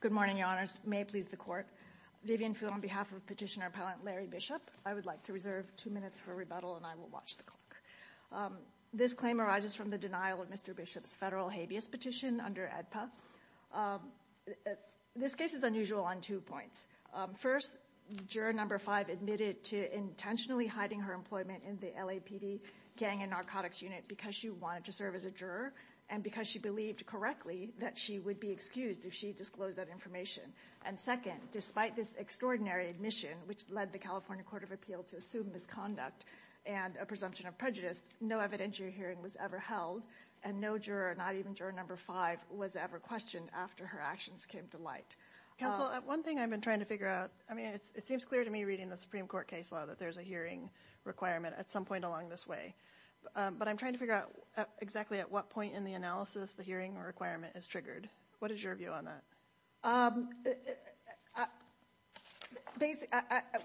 Good morning, Your Honors. May it please the Court, Vivian Field on behalf of Petitioner Appellant Larry Bishop, I would like to reserve two minutes for rebuttal and I will watch the clock. This claim arises from the denial of Mr. Bishop's federal habeas petition under AEDPA. This case is unusual on two points. First, juror number five admitted to intentionally hiding her employment in the LAPD gang and narcotics unit because she wanted to serve as a juror and because she believed correctly that she would be excused if she disclosed that information. And second, despite this extraordinary admission which led the California Court of Appeal to assume misconduct and a presumption of prejudice, no evidentiary hearing was ever held and no juror, not even juror number five, was ever questioned after her actions came to light. Counsel, one thing I've been trying to figure out, I mean, it seems clear to me reading the Supreme Court case law that there's a hearing requirement at some point along this way, but I'm trying to figure out exactly at what point in the analysis the hearing requirement is triggered. What is your view on that?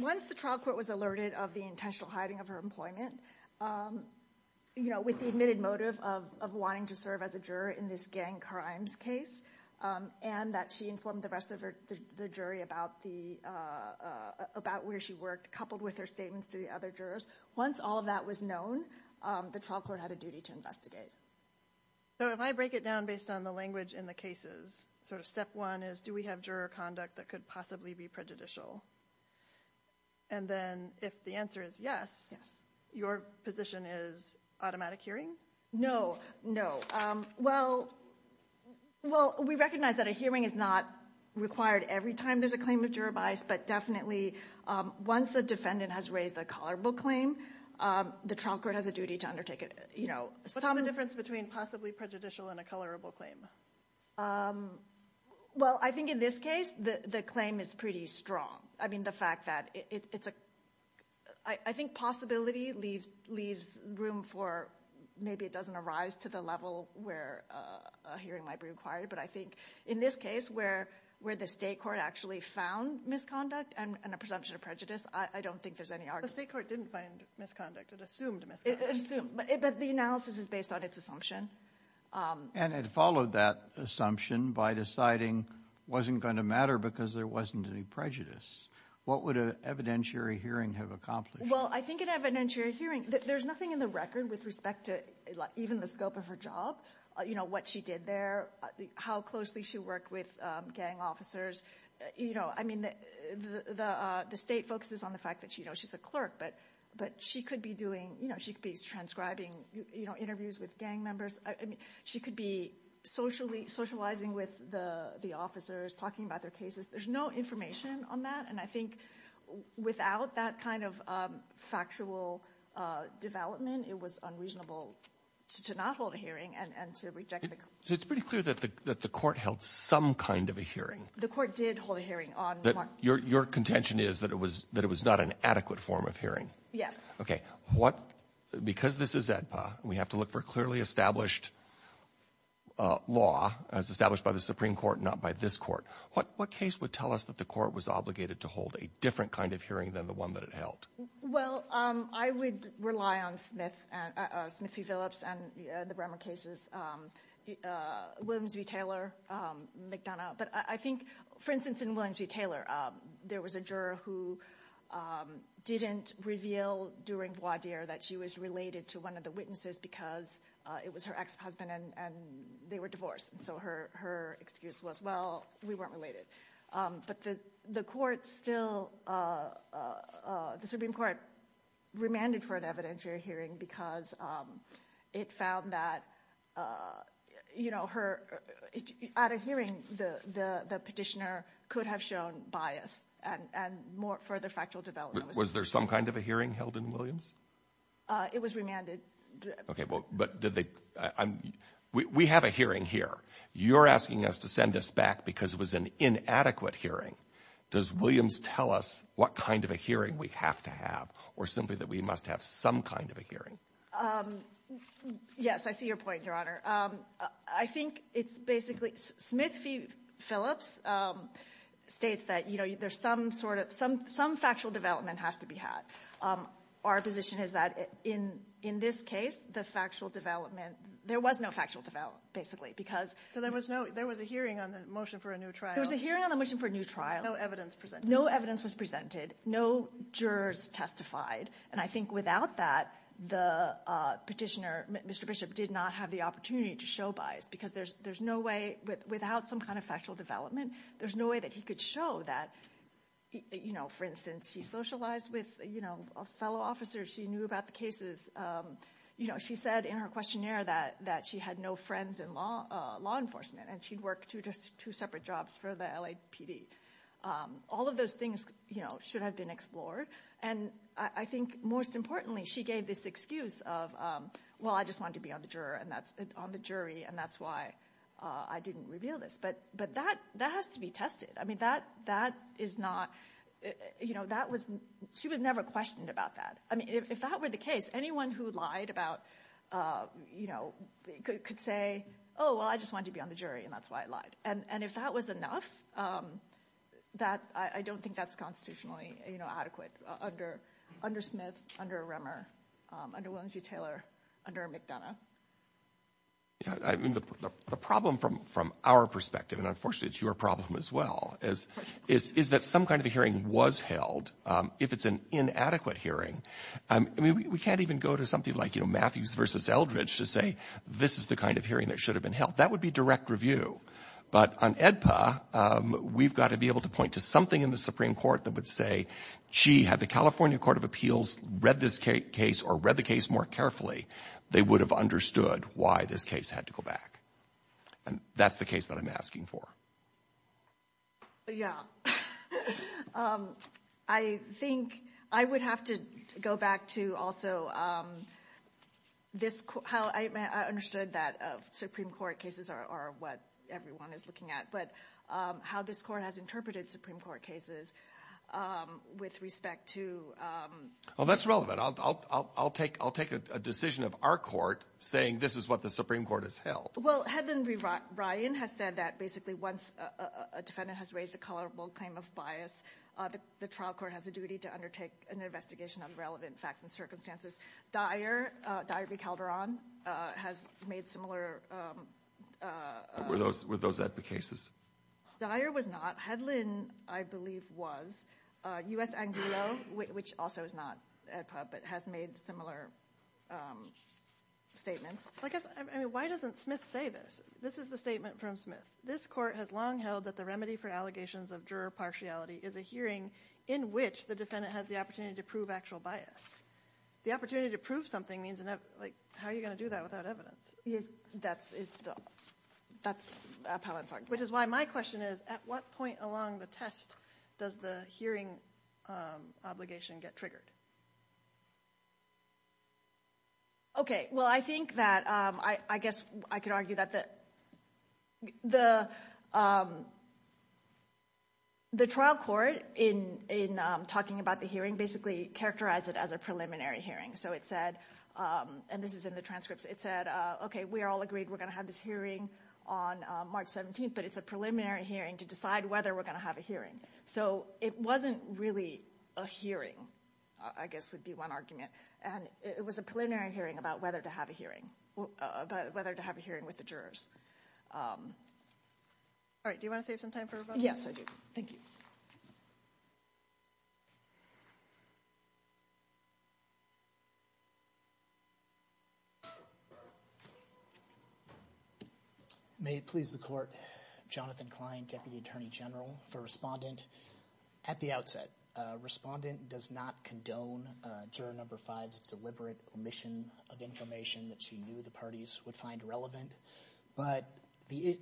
Once the trial court was alerted of the intentional hiding of her employment, you know, with the admitted motive of wanting to serve as a juror in this gang crimes case and that she informed the rest of the jury about where she worked, coupled with her statements to the other jurors, once all of that was known, the trial court had a duty to investigate. So if I break it down based on the language in the cases, sort of step one is do we have juror conduct that could possibly be prejudicial? And then if the answer is yes, your position is automatic hearing? No, no. Well, well, we recognize that a hearing is not required every time there's a claim of juror bias, but definitely once the defendant has raised a color book claim, the trial court has a duty to undertake it, you know. What's the difference between possibly prejudicial and a colorable claim? Well, I think in this case the claim is pretty strong. I mean, the fact that it's a, I think possibility leaves room for, maybe it doesn't arise to the level where a hearing might be required, but I think in this case where the state court actually found misconduct and a presumption of prejudice, I don't think there's any argument. The state court didn't find misconduct, it assumed misconduct. It assumed, but the analysis is based on its assumption. And it followed that assumption by deciding wasn't going to matter because there wasn't any prejudice. What would an evidentiary hearing have accomplished? Well, I think an evidentiary hearing, there's nothing in the record with respect to even the scope of her job, you know, what she did there, how closely she worked with gang officers, you know. I mean, the state focuses on the fact that, you know, she's a clerk, but she could be doing, you know, she could be transcribing, you know, interviews with gang members. I mean, she could be socially, socializing with the officers, talking about their cases. There's no information on that. And I think without that kind of factual development, it was unreasonable to not hold a hearing and to reject the claim. So it's pretty clear that the Court held some kind of a hearing. The Court did hold a hearing on Mark. Your contention is that it was not an adequate form of hearing. Okay. What — because this is AEDPA, and we have to look for clearly established law, as established by the Supreme Court, not by this Court, what case would tell us that the Court was obligated to hold a different kind of hearing than the one that it held? Well, I would rely on Smith, Smith v. Phillips, and the Bremer cases, Williams v. Taylor, McDonough. But I think, for instance, in Williams v. Taylor, there was a juror who didn't reveal during voir dire that she was related to one of the witnesses because it was her ex-husband and they were divorced. And so her excuse was, well, we weren't related. But the Court still — the Supreme Court remanded for an evidentiary hearing because it found that, you know, her — at a hearing, the petitioner could have shown bias and more further factual development was needed. Was there some kind of a hearing held in Williams? It was remanded. Okay. Well, but did they — we have a hearing here. You're asking us to send this back because it was an inadequate hearing. Does Williams tell us what kind of a hearing we have to have or simply that we must have some kind of a hearing? Yes, I see your point, Your Honor. I think it's basically — Smith v. Phillips states that, you know, there's some sort of — some factual development has to be had. Our position is that in this case, the factual development — there was no factual development, basically, because — So there was no — there was a hearing on the motion for a new trial. There was a hearing on the motion for a new trial. No evidence presented. No evidence was presented. No jurors testified. And I think without that, the petitioner, Mr. Bishop, did not have the opportunity to show bias because there's no way — without some kind of factual development, there's no way that he could show that, you know, for instance, she socialized with, you know, fellow officers. She knew about the cases. You know, she said in her questionnaire that she had no friends in law enforcement and she'd worked two separate jobs for the LAPD. All of those things, you know, should have been explored. And I think most importantly, she gave this excuse of, well, I just wanted to be on the juror and that's — on the jury, and that's why I didn't reveal this. But that has to be tested. I mean, that is not — you know, that was — she was never questioned about that. I mean, if that were the case, anyone who lied about — you know, could say, oh, well, I just wanted to be on the jury, and that's why I lied. And if that was enough, that — I don't think that's constitutionally, you know, adequate under — under Smith, under Remmer, under Williams v. Taylor, under McDonough. Yeah, I mean, the problem from our perspective — and unfortunately, it's your problem as well — is that some kind of a hearing was held. If it's an inadequate hearing — I mean, we can't even go to something like, you know, Matthews v. Eldridge to say, this is the kind of hearing that should have been held. That would be direct review. But on AEDPA, we've got to be able to point to something in the Supreme Court that would say, gee, had the California Court of Appeals read this case or read the case more carefully, they would have understood why this case had to go back. And that's the case that I'm asking for. Yeah. I think — I would have to go back to also this — how I understood that Supreme Court cases are what everyone is looking at, but how this Court has interpreted Supreme Court cases with respect to — Well, that's relevant. I'll take a decision of our court saying this is what the Supreme Court has held. Well, Hedlund v. Ryan has said that basically once a defendant has raised a colorable claim of bias, the trial court has a duty to undertake an investigation of relevant facts and circumstances. Dyer v. Calderon has made similar — Were those AEDPA cases? Dyer was not. Hedlund, I believe, was. U.S. Angulo, which also is not AEDPA, but has made similar statements. I guess — I mean, why doesn't Smith say this? This is the statement from Smith. This Court has long held that the remedy for allegations of juror partiality is a hearing in which the defendant has the opportunity to prove actual bias. The opportunity to prove something means — like, how are you going to do that without evidence? That's how I'm talking about it. Which is why my question is, at what point along the test does the hearing obligation get triggered? Okay. Well, I think that — I guess I could argue that the trial court in talking about the hearing basically characterized it as a preliminary hearing. So it said — and this is in the transcripts — it said, okay, we are all agreed we're going to have this hearing on March 17th, but it's a preliminary hearing to decide whether we're going to have a hearing. So it wasn't really a hearing, I guess would be one argument. And it was a preliminary hearing about whether to have a hearing — about whether to have a hearing with the jurors. All right. Do you want to save some time for rebuttal? Yes, I do. Thank you. May it please the Court, Jonathan Klein, Deputy Attorney General, for Respondent. At the outset, Respondent does not condone Juror No. 5's deliberate omission of information that she knew the parties would find relevant. But the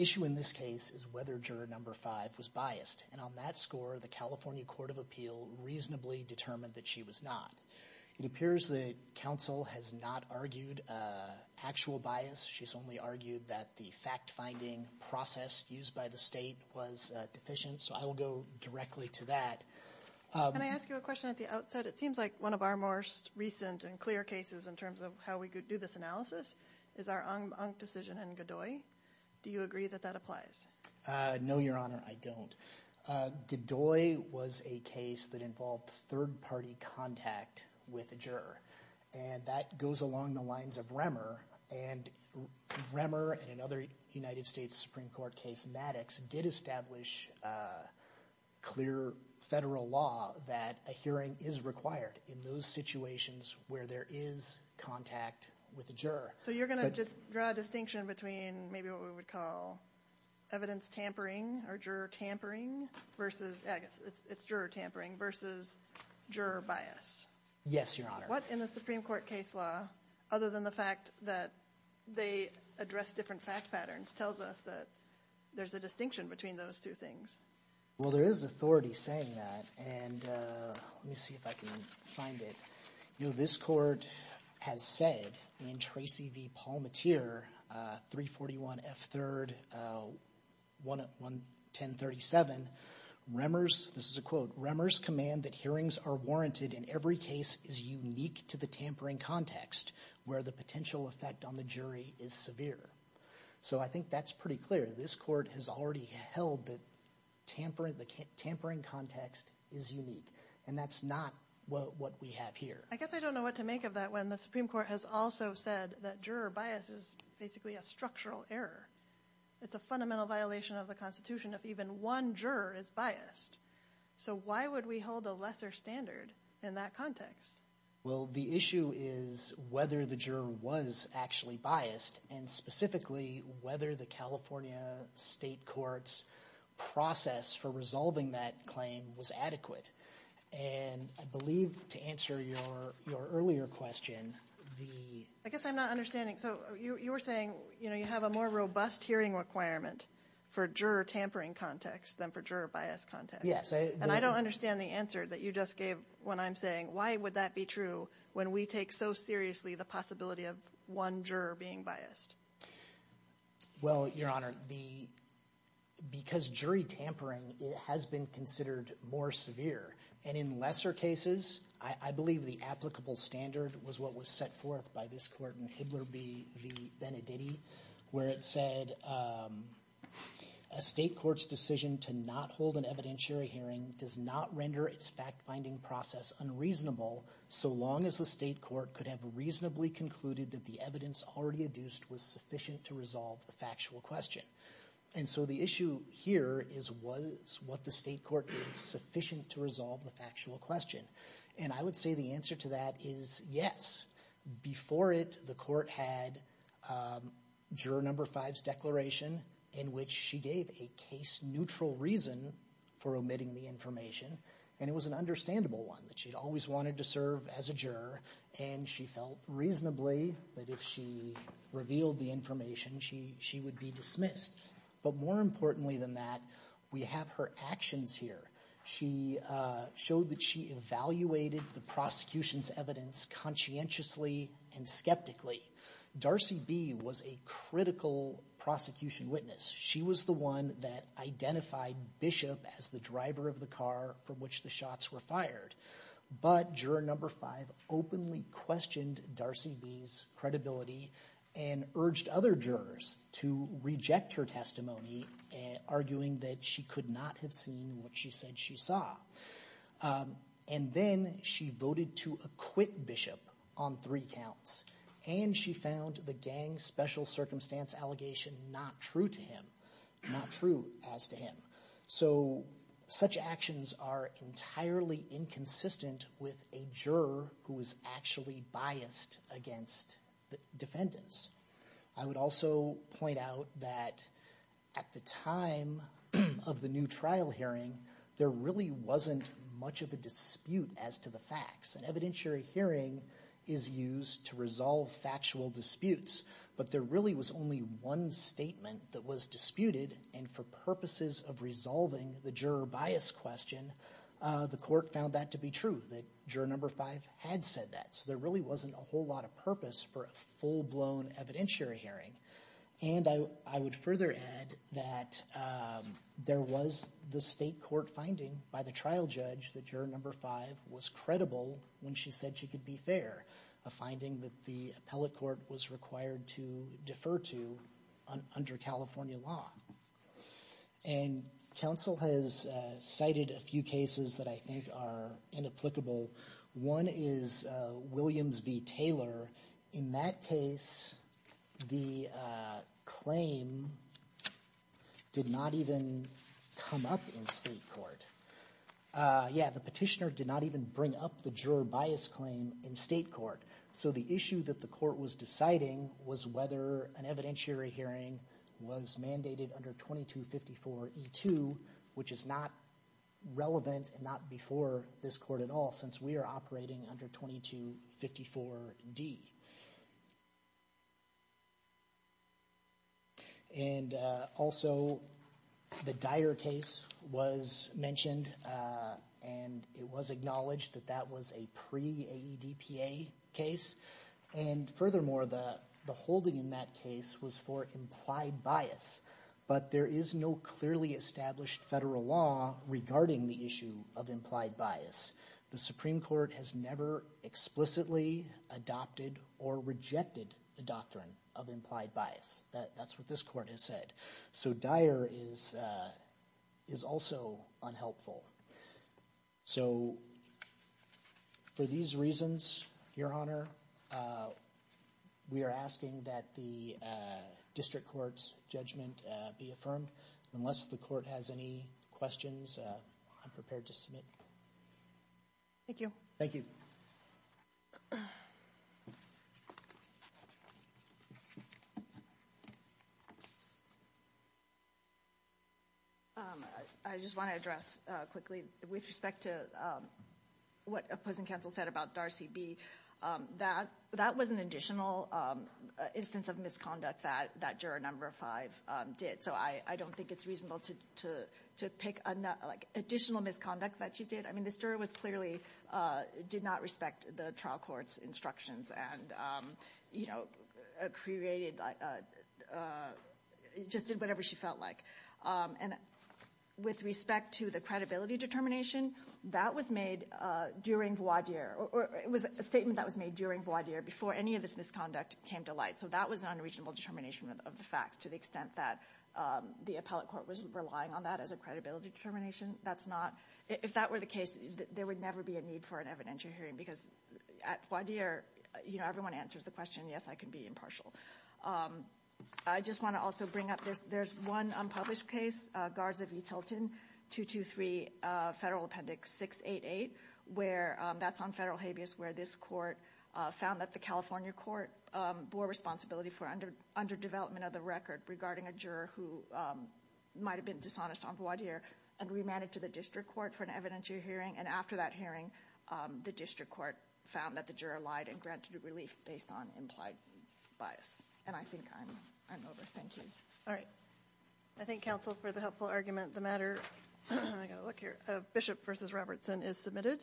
issue in this case is whether Juror No. 5 was biased. And on that score, the California Court of Appeal reasonably determined that she was not. It appears that counsel has not argued actual bias. She's only argued that the fact-finding process used by the state was deficient. So I will go directly to that. Can I ask you a question at the outset? It seems like one of our most recent and clear cases in terms of how we do this analysis is our Ong decision and Godoy. Do you agree that that applies? No, Your Honor, I don't. Godoy was a case that involved third-party contact with a juror. And that goes along the lines of Remmer. And Remmer and another United States Supreme Court case, Maddox, did establish clear federal law that a hearing is required in those situations where there is contact with a juror. So you're going to just draw a distinction between maybe what we would call evidence tampering or juror tampering versus, I guess it's juror tampering versus juror bias. Yes, Your Honor. What in the Supreme Court case law, other than the fact that they address different fact patterns, tells us that there's a distinction between those two things? Well, there is authority saying that. And let me see if I can find it. You know, this court has said in Tracy v. Palmatier, 341 F. 3rd, 110 37, Remmer's, this is a quote, Remmer's command that hearings are warranted in every case is unique to the tampering context where the potential effect on the jury is severe. So I think that's pretty clear. This court has already held that tampering context is unique. And that's not what we have here. I guess I don't know what to make of that when the Supreme Court has also said that juror bias is basically a structural error. It's a fundamental violation of the Constitution if even one juror is biased. So why would we hold a lesser standard in that context? Well, the issue is whether the juror was actually biased and specifically whether the California state court's process for resolving that claim was adequate. And I believe to answer your earlier question, the... I guess I'm not understanding. So you were saying, you know, you have a more robust hearing requirement for juror tampering context than for juror bias context. And I don't understand the answer that you just gave when I'm saying, why would that be true when we take so seriously the possibility of one juror being biased? Well, Your Honor, because jury tampering has been considered more severe. And in lesser cases, I believe the applicable standard was what was set forth by this court in Hibler v. Benedetti, where it said a state court's decision to not hold an evidentiary hearing does not render its fact-finding process unreasonable so long as the state court could have reasonably concluded that the evidence already adduced was sufficient to resolve the factual question. And so the issue here is what the state court did sufficient to resolve the factual question. And I would say the answer to that is yes. Before it, the court had Juror No. 5's declaration, in which she gave a case-neutral reason for omitting the information. And it was an understandable one, that she'd always wanted to serve as a juror, and she felt reasonably that if she revealed the information, she would be dismissed. But more importantly than that, we have her actions here. She showed that she evaluated the prosecution's evidence conscientiously and skeptically. Darcy B. was a critical prosecution witness. She was the one that identified Bishop as the driver of the car from which the shots were fired. But Juror No. 5 openly questioned Darcy B.'s credibility and urged other jurors to reject her testimony, arguing that she could not have seen what she said she saw. And then she voted to acquit Bishop on three counts. And she found the gang special circumstance allegation not true to him, not true as to him. So such actions are entirely inconsistent with a juror who is actually biased against the defendants. I would also point out that at the time of the new trial hearing, there really wasn't much of a dispute as to the facts. An evidentiary hearing is used to resolve factual disputes, but there really was only one statement that was disputed. And for purposes of resolving the juror bias question, the court found that to be true, that Juror No. 5 had said that. There really wasn't a whole lot of purpose for a full-blown evidentiary hearing. And I would further add that there was the state court finding by the trial judge that Juror No. 5 was credible when she said she could be fair, a finding that the appellate court was required to defer to under California law. And counsel has cited a few cases that I think are inapplicable. One is Williams v. Taylor. In that case, the claim did not even come up in state court. Yeah, the petitioner did not even bring up the juror bias claim in state court. So the issue that the court was deciding was whether an evidentiary hearing was mandated under 2254E2, which is not relevant and not before this court at all, since we are operating under 2254D. And also, the Dyer case was mentioned, and it was acknowledged that that was a pre-AEDPA case. And furthermore, the holding in that case was for implied bias, but there is no clearly established federal law regarding the issue of implied bias. The Supreme Court has never explicitly adopted or rejected the doctrine of implied bias. That's what this court has said. So Dyer is also unhelpful. So for these reasons, Your Honor, we are asking that the district court's judgment be affirmed. Unless the court has any questions, I'm prepared to submit. Thank you. Thank you. I just want to address quickly with respect to what opposing counsel said about Darcy B. That was an additional instance of misconduct that juror number five did. So I don't think it's reasonable to pick additional misconduct that you did. The juror clearly did not respect the trial court's instructions and just did whatever she felt like. And with respect to the credibility determination, that was made during voir dire, or it was a statement that was made during voir dire before any of this misconduct came to light. So that was an unreasonable determination of the facts, to the extent that the appellate court was relying on that as a credibility determination. If that were the case, there would never be a need for an evidentiary hearing because at voir dire, everyone answers the question. Yes, I can be impartial. I just want to also bring up this. There's one unpublished case, Guards of E. Tilton, 223 Federal Appendix 688, where that's on federal habeas where this court found that the California court bore responsibility for underdevelopment of the record regarding a who might have been dishonest on voir dire and remanded to the district court for an evidentiary hearing. And after that hearing, the district court found that the juror lied and granted relief based on implied bias. And I think I'm over. Thank you. All right. I thank counsel for the helpful argument. The matter, I got to look here, of Bishop v. Robertson is submitted.